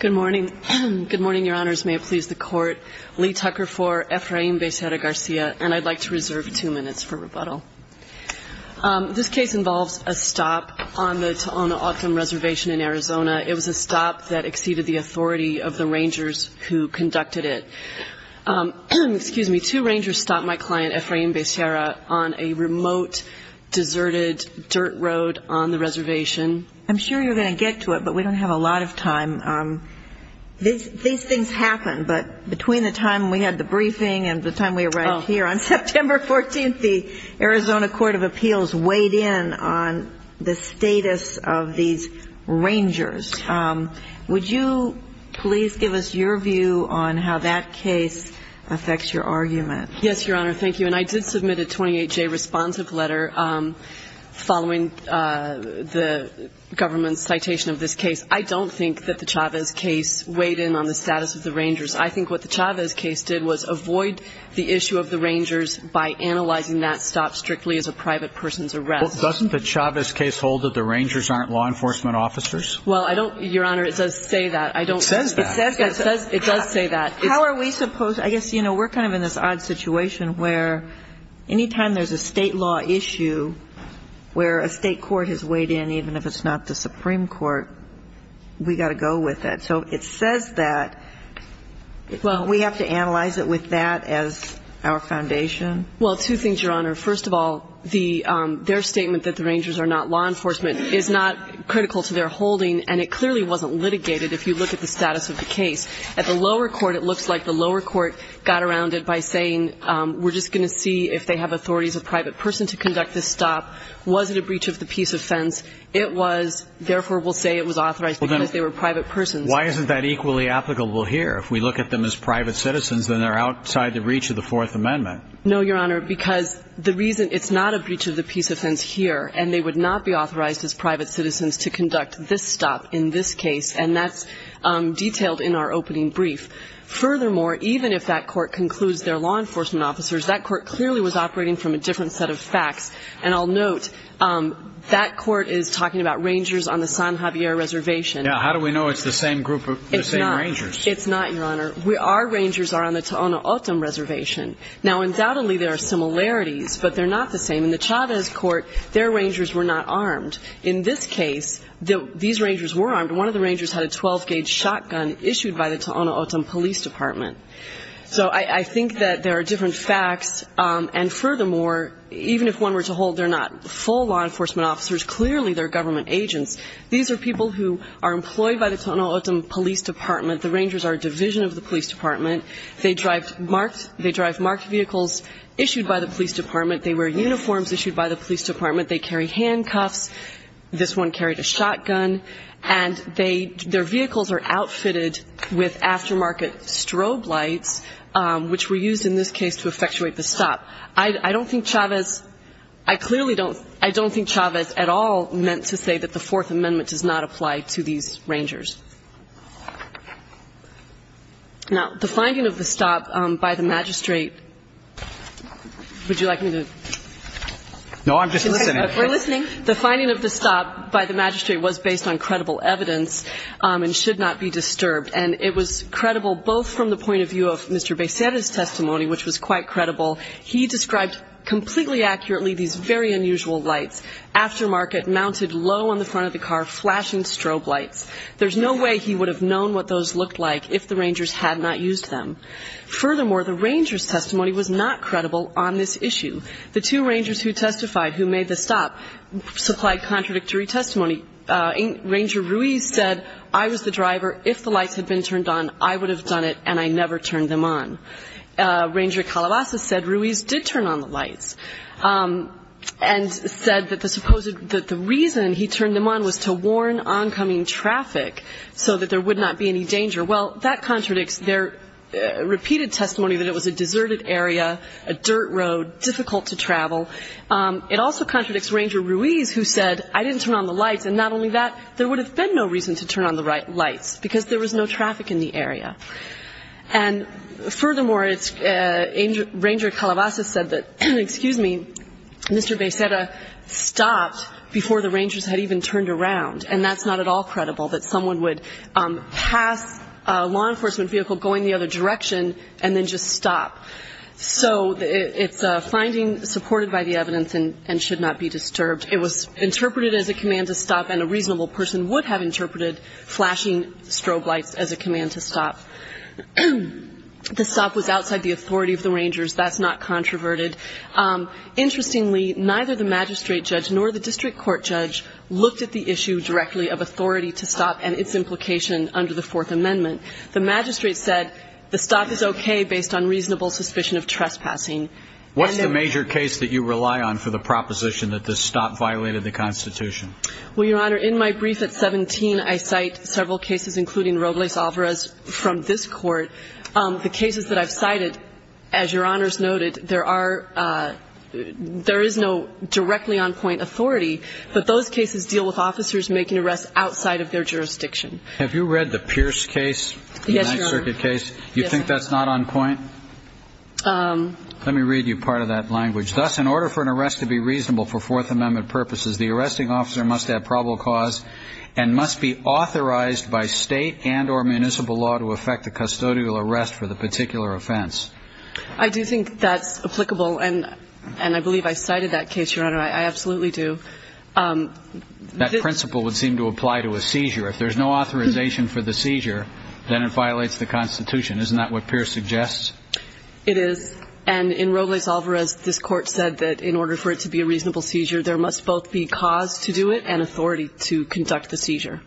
Good morning. Good morning, Your Honors. May it please the Court. Lee Tucker for Efrain Becerra-Garcia, and I'd like to reserve two minutes for rebuttal. This case involves a stop on the Tohono O'odham Reservation in Arizona. It was a stop that exceeded the authority of the rangers who conducted it. Excuse me. Two rangers stopped my client, Efrain Becerra, on a remote, deserted dirt road on the reservation. I'm sure you're going to get to it, but we don't have a lot of time. These things happen. But between the time we had the briefing and the time we arrived here on September 14th, the Arizona Court of Appeals weighed in on the status of these rangers. Would you please give us your view on how that case affects your argument? Yes, Your Honor. Thank you. And I did submit a 28-J responsive letter following the government's citation of this case. I don't think that the Chavez case weighed in on the status of the rangers. I think what the Chavez case did was avoid the issue of the rangers by analyzing that stop strictly as a private person's arrest. Well, doesn't the Chavez case hold that the rangers aren't law enforcement officers? Well, I don't – Your Honor, it does say that. I don't – It says that. It does say that. How are we supposed – I guess, you know, we're kind of in this odd situation where any time there's a state law issue where a state court has weighed in, even if it's not the Supreme Court, we've got to go with it. So it says that. Well, we have to analyze it with that as our foundation? Well, two things, Your Honor. First of all, their statement that the rangers are not law enforcement is not critical to their holding, and it clearly wasn't litigated if you look at the status of the case. At the lower court, it looks like the lower court got around it by saying we're just going to see if they have authority as a private person to conduct this stop. Was it a breach of the peace offense? It was. Therefore, we'll say it was authorized because they were private persons. Why isn't that equally applicable here? If we look at them as private citizens, then they're outside the reach of the Fourth Amendment. No, Your Honor, because the reason – it's not a breach of the peace offense here, and they would not be authorized as private citizens to conduct this stop in this case, and that's detailed in our opening brief. Furthermore, even if that court concludes they're law enforcement officers, that court clearly was operating from a different set of facts. And I'll note that court is talking about rangers on the San Javier Reservation. Now, how do we know it's the same group of – the same rangers? It's not, Your Honor. Our rangers are on the Tohono O'odham Reservation. Now, undoubtedly, there are similarities, but they're not the same. In the Chavez court, their rangers were not armed. In this case, these rangers were armed. One of the rangers had a 12-gauge shotgun issued by the Tohono O'odham Police Department. So I think that there are different facts, and furthermore, even if one were to hold they're not full law enforcement officers, clearly they're government agents. These are people who are employed by the Tohono O'odham Police Department. The rangers are a division of the police department. They drive marked – they drive marked vehicles issued by the police department. They wear uniforms issued by the police department. They carry handcuffs. This one carried a shotgun. And they – their vehicles are outfitted with aftermarket strobe lights, which were used in this case to effectuate the stop. I don't think Chavez – I clearly don't – I don't think Chavez at all meant to say that the Fourth Amendment does not apply to these rangers. Now, the finding of the stop by the magistrate – would you like me to – No, I'm just listening. We're listening. The finding of the stop by the magistrate was based on credible evidence and should not be disturbed. And it was credible both from the point of view of Mr. Becerra's testimony, which was quite credible. He described completely accurately these very unusual lights, aftermarket, mounted low on the front of the car, flashing strobe lights. There's no way he would have known what those looked like if the rangers had not used them. Furthermore, the ranger's testimony was not credible on this issue. The two rangers who testified, who made the stop, supplied contradictory testimony. Ranger Ruiz said, I was the driver. If the lights had been turned on, I would have done it, and I never turned them on. Ranger Calabaza said Ruiz did turn on the lights, and said that the reason he turned them on was to warn oncoming traffic so that there would not be any danger. Well, that contradicts their repeated testimony that it was a deserted area, a dirt road, difficult to travel. It also contradicts Ranger Ruiz, who said, I didn't turn on the lights, and not only that, there would have been no reason to turn on the lights, because there was no traffic in the area. And furthermore, Ranger Calabaza said that, excuse me, Mr. Becerra stopped before the rangers had even turned around. And that's not at all credible, that someone would pass a law enforcement vehicle going the other direction, and then just stop. So it's a finding supported by the evidence, and should not be disturbed. It was interpreted as a command to stop, and a reasonable person would have interpreted flashing strobe lights as a command to stop. The stop was outside the authority of the rangers. That's not controverted. Interestingly, neither the magistrate judge nor the district court judge looked at the issue directly of authority to stop and its implication under the Fourth Amendment. The magistrate said the stop is okay based on reasonable suspicion of trespassing. What's the major case that you rely on for the proposition that the stop violated the Constitution? Well, Your Honor, in my brief at 17, I cite several cases, including Robles-Alvarez from this court. The cases that I've cited, as Your Honor's noted, there are, there is no directly on point authority, but those cases deal with officers making arrests outside of their jurisdiction. Have you read the Pierce case? Yes, Your Honor. United Circuit case? Yes. You think that's not on point? Um. Let me read you part of that language. Thus, in order for an arrest to be reasonable for Fourth Amendment purposes, the arresting officer must have probable cause and must be authorized by state and or municipal law to effect a custodial arrest for the particular offense. I do think that's applicable, and I believe I cited that case, Your Honor. I absolutely do. That principle would seem to apply to a seizure. If there's no authorization for the seizure, then it violates the Constitution. Isn't that what Pierce suggests? It is. And in Robles-Alvarez, this court said that in order for it to be a reasonable seizure, there must both be cause to do it and authority to conduct the seizure.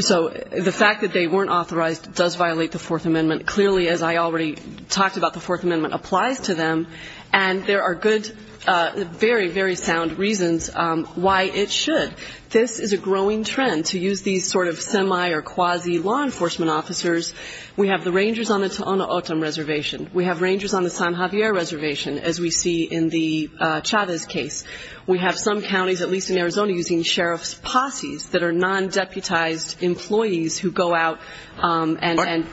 So the fact that they weren't authorized does violate the Fourth Amendment. Clearly, as I already talked about, the Fourth Amendment applies to them, and there are good, very, very sound reasons why it should. This is a growing trend. To use these sort of semi or quasi law enforcement officers, we have the rangers on the Tohono O'odham Reservation. We have rangers on the San Javier Reservation, as we see in the Chavez case. We have some counties, at least in Arizona, using sheriff's posses that are non-deputized employees who go out and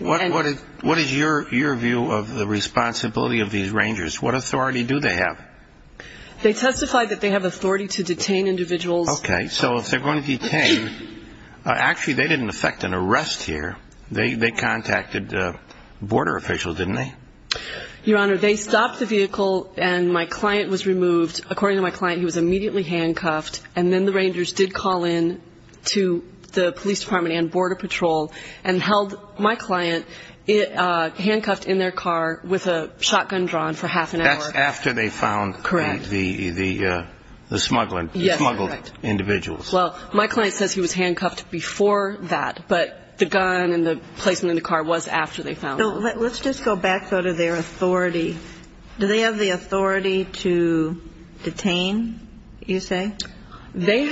What is your view of the responsibility of these rangers? What authority do they have? They testified that they have authority to detain individuals. Okay. So if they're going to detain, actually, they didn't effect an arrest here. They contacted border officials, didn't they? Your Honor, they stopped the vehicle, and my client was removed. According to my client, he was immediately handcuffed, and then the rangers did call in to the police department and border patrol and held my client handcuffed in their car with a shotgun drawn for half an hour. That's after they found the smuggled individuals. Yes, correct. Well, my client says he was handcuffed before that, but the gun and the placement in the car was after they found him. Let's just go back, though, to their authority. Do they have the authority to detain, you say? They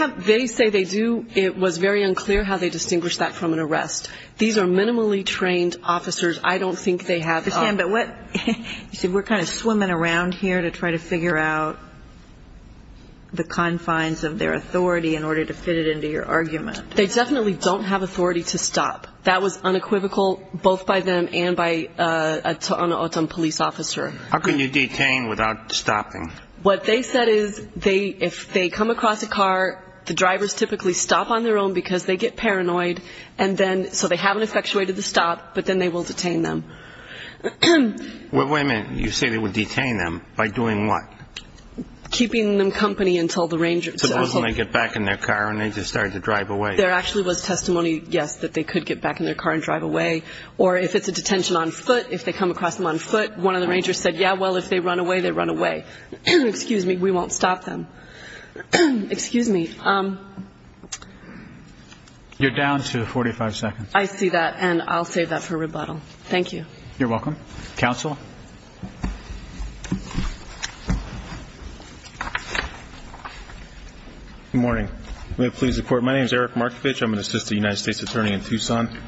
say they do. It was very unclear how they distinguished that from an arrest. These are minimally trained officers. I don't think they have. You said we're kind of swimming around here to try to figure out the confines of their authority in order to fit it into your argument. They definitely don't have authority to stop. That was unequivocal both by them and by an O'odham police officer. How can you detain without stopping? What they said is if they come across a car, the drivers typically stop on their own because they get paranoid, so they haven't effectuated the stop, but then they will detain them. Wait a minute. You say they would detain them by doing what? Keeping them company until the rangers get back in their car and they just start to drive away. There actually was testimony. Yes, that they could get back in their car and drive away. Or if it's a detention on foot, if they come across them on foot, one of the rangers said, yeah, well, if they run away, they run away. Excuse me. We won't stop them. Excuse me. You're down to 45 seconds. I see that. And I'll save that for rebuttal. Thank you. You're welcome. Counsel. Good morning. May it please the Court. My name is Eric Markovich. I'm an assistant United States attorney in Tucson.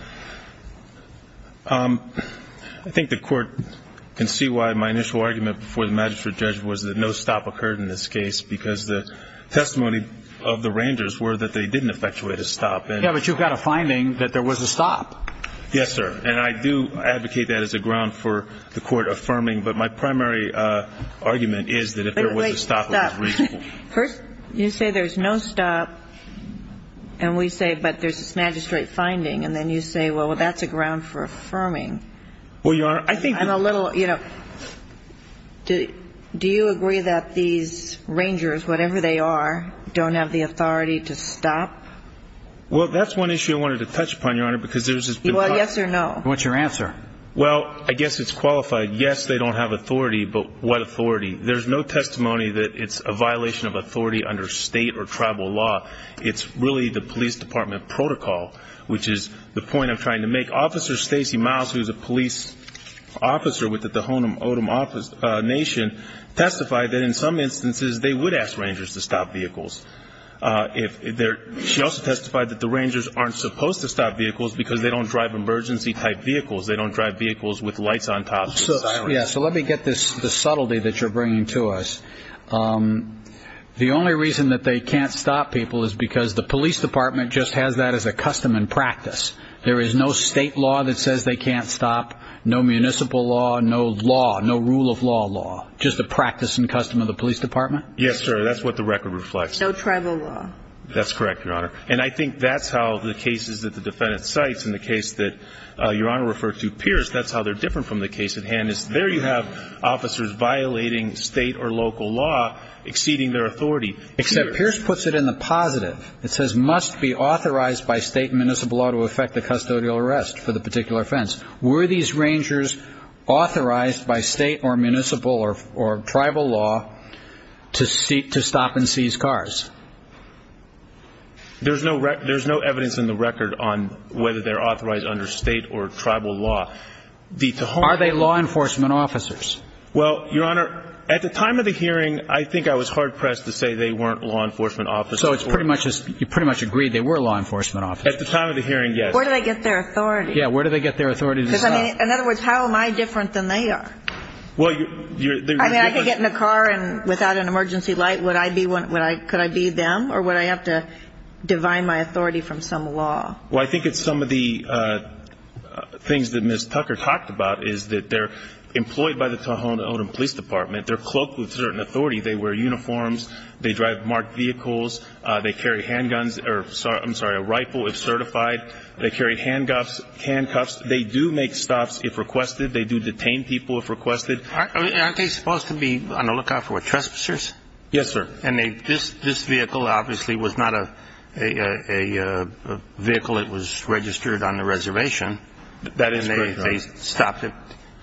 I think the Court can see why my initial argument before the hearing was that there was a stop, but there was no stop. And I do advocate that as a ground for the Court affirming, but my primary argument is that if there was a stop, it was reasonable. First, you say there's no stop, and we say, but there's this magistrate finding, and then you say, well, that's a ground for the Court to affirm. So you're saying that the officers, whatever they are, don't have the authority to stop? Well, that's one issue I wanted to touch upon, Your Honor, because there's this question. Well, yes or no? What's your answer? Well, I guess it's qualified yes, they don't have authority, but what authority? There's no testimony that it's a violation of authority under State or tribal law. It's really the police department protocol, which is the point I'm making. What I'm saying is, if you have a police officer, if you have a police officer who's a police officer with the Ho'onomato Nation, testify that in some instances they would ask rangers to stop vehicles. She also testified that the rangers aren't supposed to stop vehicles because they don't drive emergency type vehicles. They don't drive vehicles with lights on top of them. Yes, so let me get this subtlety that you're bringing to us. The only reason that they can't stop people is because the police department just has that as a custom and practice. There is no state law that says they can't stop. No municipal law, no law, no rule of law law. Just a practice and custom of the police department? Yes, sir. That's what the record reflects. No tribal law. That's correct, Your Honor, and I think that's how the cases that the defendant cites and the case that Your Honor referred to Pierce, that's how they're different from the case at hand, is there you have officers violating state or local law exceeding their authority. Except Pierce puts it in the positive. It says must be authorized by state municipal law to affect the custodial arrest for the particular offense. Were these rangers authorized by state or municipal or tribal law to stop and seize cars? There's no evidence in the record on whether they're authorized under state or tribal law. Are they law enforcement officers? Well, Your Honor, at the time of the hearing, I think I was hard-pressed to say they weren't law enforcement officers. So you pretty much agreed they were law enforcement officers? At the time of the hearing, yes. Where do they get their authority? Yeah. Where do they get their authority to stop? Because, I mean, in other words, how am I different than they are? Well, you're different. I mean, I could get in a car and without an emergency light, would I be one could I be them or would I have to divide my authority from some law? Well, I think it's some of the things that Ms. Tucker talked about is that they're employed by the time they get to jail, they're not under any kind of Tohono O'odham Police Department. They're cloaked with certain authority. They wear uniforms, they drive marked vehicles, they carry handguns or, I'm sorry, a rifle if certified, they carry handcuffs. They do make stops if requested. They do detain people if requested. Aren't they supposed to be on the lookout for trespassers? Yes, sir. And this vehicle obviously was not a vehicle that was registered on the reservation. That is correct, Your Honor. And they stopped it.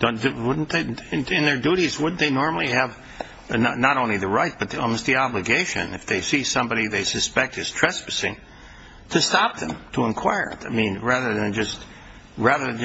In their duties, wouldn't they normally have not only the right but almost the obligation if they see somebody they suspect is trespassing to stop them, to inquire? I mean, rather than just, I don't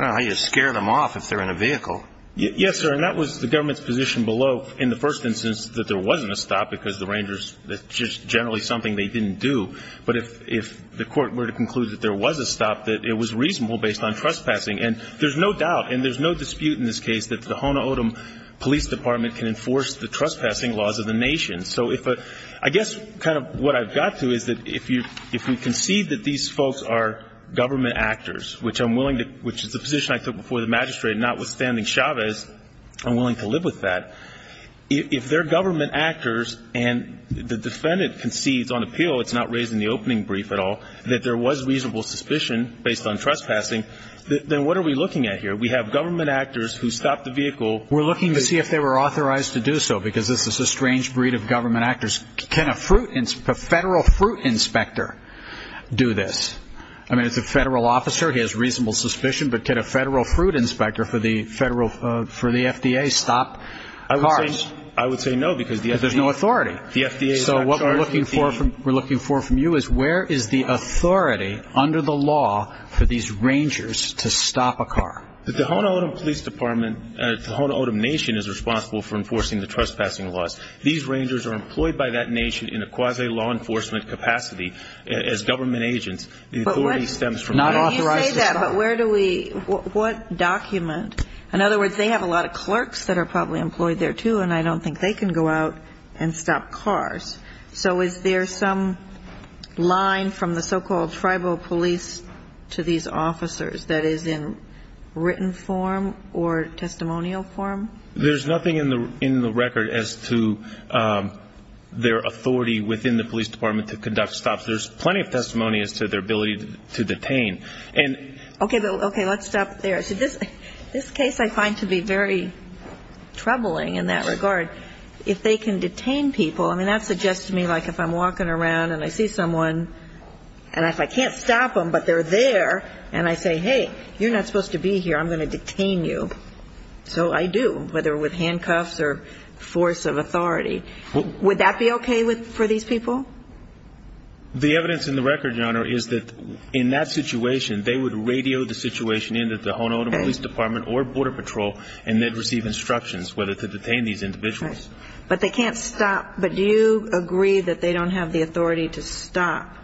know how you scare them off if they're in a vehicle. Yes, sir. And that was the government's position below in the first instance that there wasn't a stop because the Rangers, that's just generally something they didn't do. But if the court were to conclude that there was a stop, that it was reasonable based on trespassing. And there's no doubt and there's no dispute in this case that the Tohono O'odham Police Department can enforce the trespassing laws of the nation. So if a, I guess kind of what I've got to is that if you, if we concede that these folks are government actors, which I'm willing to, which is the position I took before the magistrate, notwithstanding Chavez, I'm willing to live with that. If they're government actors and the defendant concedes on appeal, it's not raised in the opening brief at all, that there was reasonable suspicion based on trespassing, then what are we looking at here? We have government actors who stopped the vehicle. We're looking to see if they were authorized to do so, because this is a strange breed of government actors. Can a federal fruit inspector do this? I mean, it's a federal officer, he has reasonable suspicion, but can a federal fruit inspector for the FDA stop cars? I would say no, because the FDA is not charged with the action. But there's no authority. So what we're looking for from you is where is the authority under the law for these Rangers to stop a car? The Tohono O'odham Police Department, Tohono O'odham Nation is responsible for enforcing the trespassing laws. These Rangers are employed by that nation in a quasi-law enforcement capacity as government agents. The authority stems from that. But when you say that, but where do we, what document? In other words, they have a lot of clerks that are probably employed there, too, and I don't think they can go out and stop cars. So is there some line from the so-called tribal police to these officers that is in written form or testimonial form? There's nothing in the record as to their authority within the police department to conduct stops. There's plenty of testimony as to their ability to detain. Okay, let's stop there. This case I find to be very troubling in that regard. If they can detain people, I mean, that suggests to me like if I'm walking around and I see someone, and if I can't stop them, but they're there, and I say, hey, you're not supposed to be here, I'm going to detain you. So I do, whether with handcuffs or force of authority. Would that be okay for these people? The evidence in the record, Your Honor, is that in that situation, they would radio the situation in to the Honolulu Police Department or Border Patrol, and they'd receive instructions whether to detain these individuals. But they can't stop. But do you agree that they don't have the authority to stop?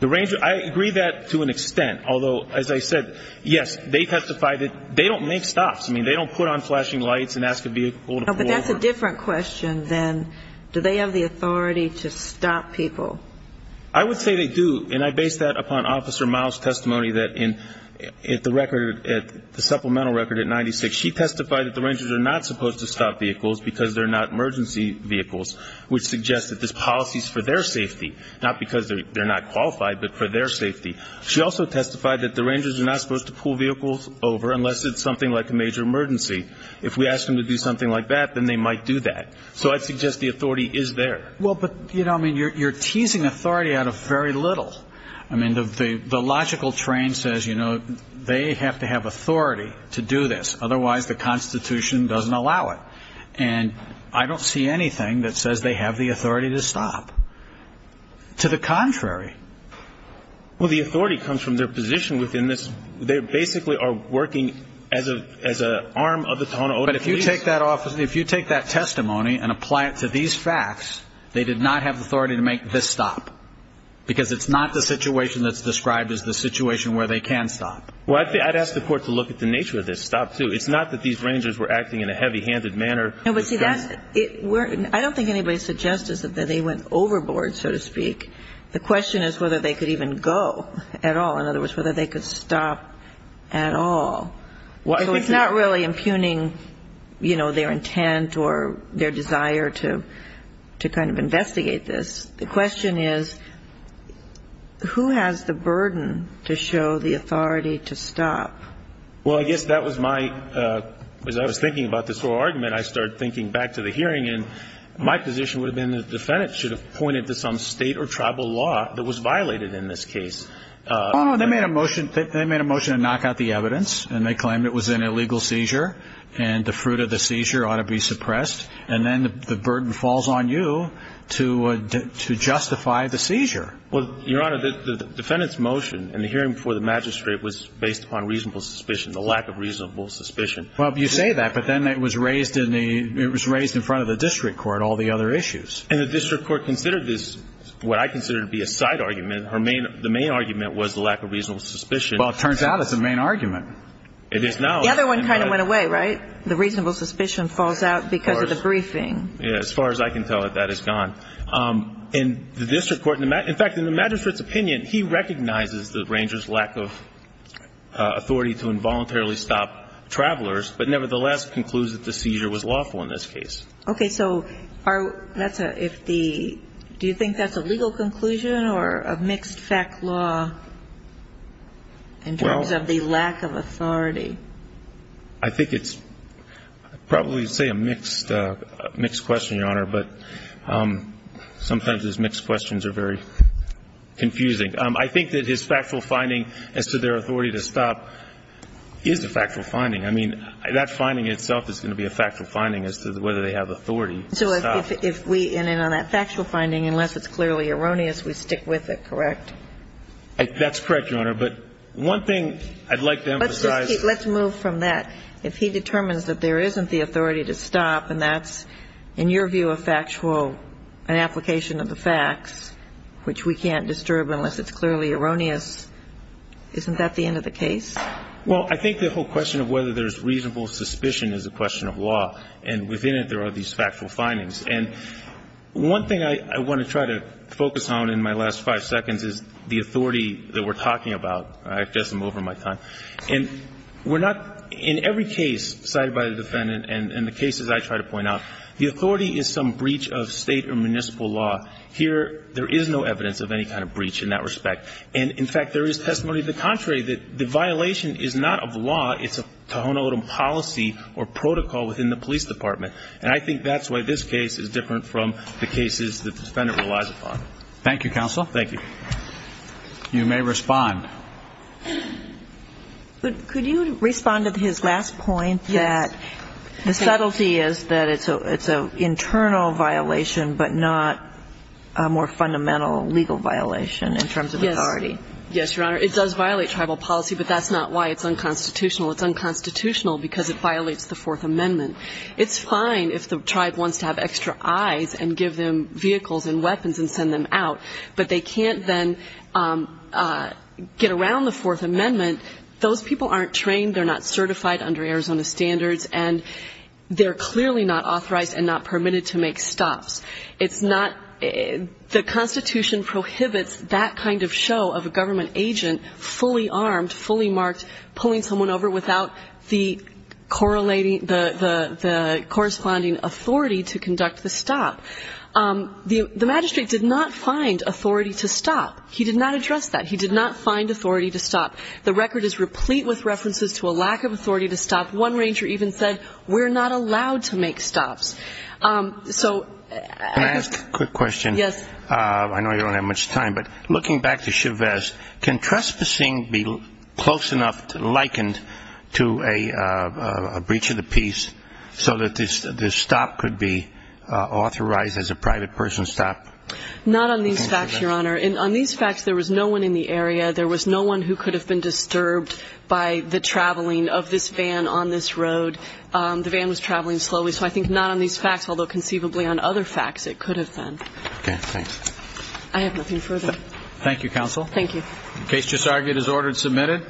I agree that to an extent, although, as I said, yes, they testify that they don't make stops. I mean, they don't put on flashing lights and ask a vehicle to pull over. Well, but that's a different question than do they have the authority to stop people? I would say they do, and I base that upon Officer Miles' testimony that in the record, the supplemental record at 96, she testified that the Rangers are not supposed to stop vehicles because they're not emergency vehicles, which suggests that this policy is for their safety, not because they're not qualified, but for their safety. She also testified that the Rangers are not supposed to pull vehicles over unless it's something like a major emergency. If we ask them to do something like that, then they might do that. So I'd suggest the authority is there. Well, but, you know, I mean, you're teasing authority out of very little. I mean, the logical train says, you know, they have to have authority to do this, otherwise the Constitution doesn't allow it. And I don't see anything that says they have the authority to stop. To the contrary. Well, the authority comes from their position within this. They basically are working as an arm of the Tohono O'odham police. But if you take that testimony and apply it to these facts, they did not have the authority to make this stop, because it's not the situation that's described as the situation where they can stop. Well, I'd ask the court to look at the nature of this stop, too. It's not that these Rangers were acting in a heavy-handed manner. I don't think anybody suggests that they went overboard, so to speak. The question is whether they could even go at all. In other words, whether they could stop at all. So it's not really impugning, you know, their intent or their desire to kind of investigate this. The question is, who has the burden to show the authority to stop? Well, I guess that was my, as I was thinking about this whole argument, I started thinking back to the hearing. And my position would have been the defendant should have pointed to some state or tribal law that was violated in this case. They made a motion to knock out the evidence, and they claimed it was an illegal seizure, and the fruit of the seizure ought to be suppressed. And then the burden falls on you to justify the seizure. Well, Your Honor, the defendant's motion in the hearing before the magistrate was based upon reasonable suspicion, the lack of reasonable suspicion. Well, you say that, but then it was raised in front of the district court, all the other issues. And the district court considered this what I consider to be a side argument. The main argument was the lack of reasonable suspicion. Well, it turns out it's the main argument. It is now. The other one kind of went away, right? The reasonable suspicion falls out because of the briefing. As far as I can tell, that is gone. In the district court, in fact, in the magistrate's opinion, he recognizes the ranger's lack of authority to involuntarily stop travelers, but nevertheless concludes that the seizure was lawful in this case. Okay. So do you think that's a legal conclusion or a mixed fact law in terms of the lack of authority? I think it's probably, say, a mixed question, Your Honor. But sometimes those mixed questions are very confusing. I think that his factual finding as to their authority to stop is a factual finding. I mean, that finding itself is going to be a factual finding as to whether they have authority to stop. So if we end on that factual finding, unless it's clearly erroneous, we stick with it, correct? That's correct, Your Honor. But one thing I'd like to emphasize. Let's move from that. If he determines that there isn't the authority to stop and that's, in your view, a factual application of the facts, which we can't disturb unless it's clearly erroneous, isn't that the end of the case? Well, I think the whole question of whether there's reasonable suspicion is a question of law. And within it, there are these factual findings. And one thing I want to try to focus on in my last five seconds is the authority that we're talking about. I've just moved on my time. And we're not, in every case cited by the defendant and the cases I try to point out, the authority is some breach of State or municipal law. Here, there is no evidence of any kind of breach in that respect. And, in fact, there is testimony to the contrary, that the violation is not of law. It's a Tohono O'odham policy or protocol within the police department. And I think that's why this case is different from the cases the defendant relies upon. Thank you, counsel. Thank you. You may respond. Could you respond to his last point that the subtlety is that it's an internal violation, but not a more fundamental legal violation in terms of authority? Yes, Your Honor. It does violate tribal policy, but that's not why it's unconstitutional. It's unconstitutional because it violates the Fourth Amendment. It's fine if the tribe wants to have extra eyes and give them vehicles and weapons and send them out, but they can't then get around the Fourth Amendment. Those people aren't trained. They're not certified under Arizona standards. And they're clearly not authorized and not permitted to make stops. It's not the Constitution prohibits that kind of show of a government agent fully armed, fully marked, pulling someone over without the corresponding authority to conduct the stop. The magistrate did not find authority to stop. He did not address that. He did not find authority to stop. The record is replete with references to a lack of authority to stop. One ranger even said, we're not allowed to make stops. So as to the question, I know you don't have much time, but looking back to Chavez, can trespassing be close enough, likened to a breach of the peace, so that the stop could be authorized as a private person's stop? Not on these facts, Your Honor. On these facts, there was no one in the area. There was no one who could have been disturbed by the traveling of this van on this road. The van was traveling slowly, so I think not on these facts, although conceivably on other facts it could have been. Okay, thanks. I have nothing further. Thank you, counsel. Thank you. The case just argued is ordered and submitted.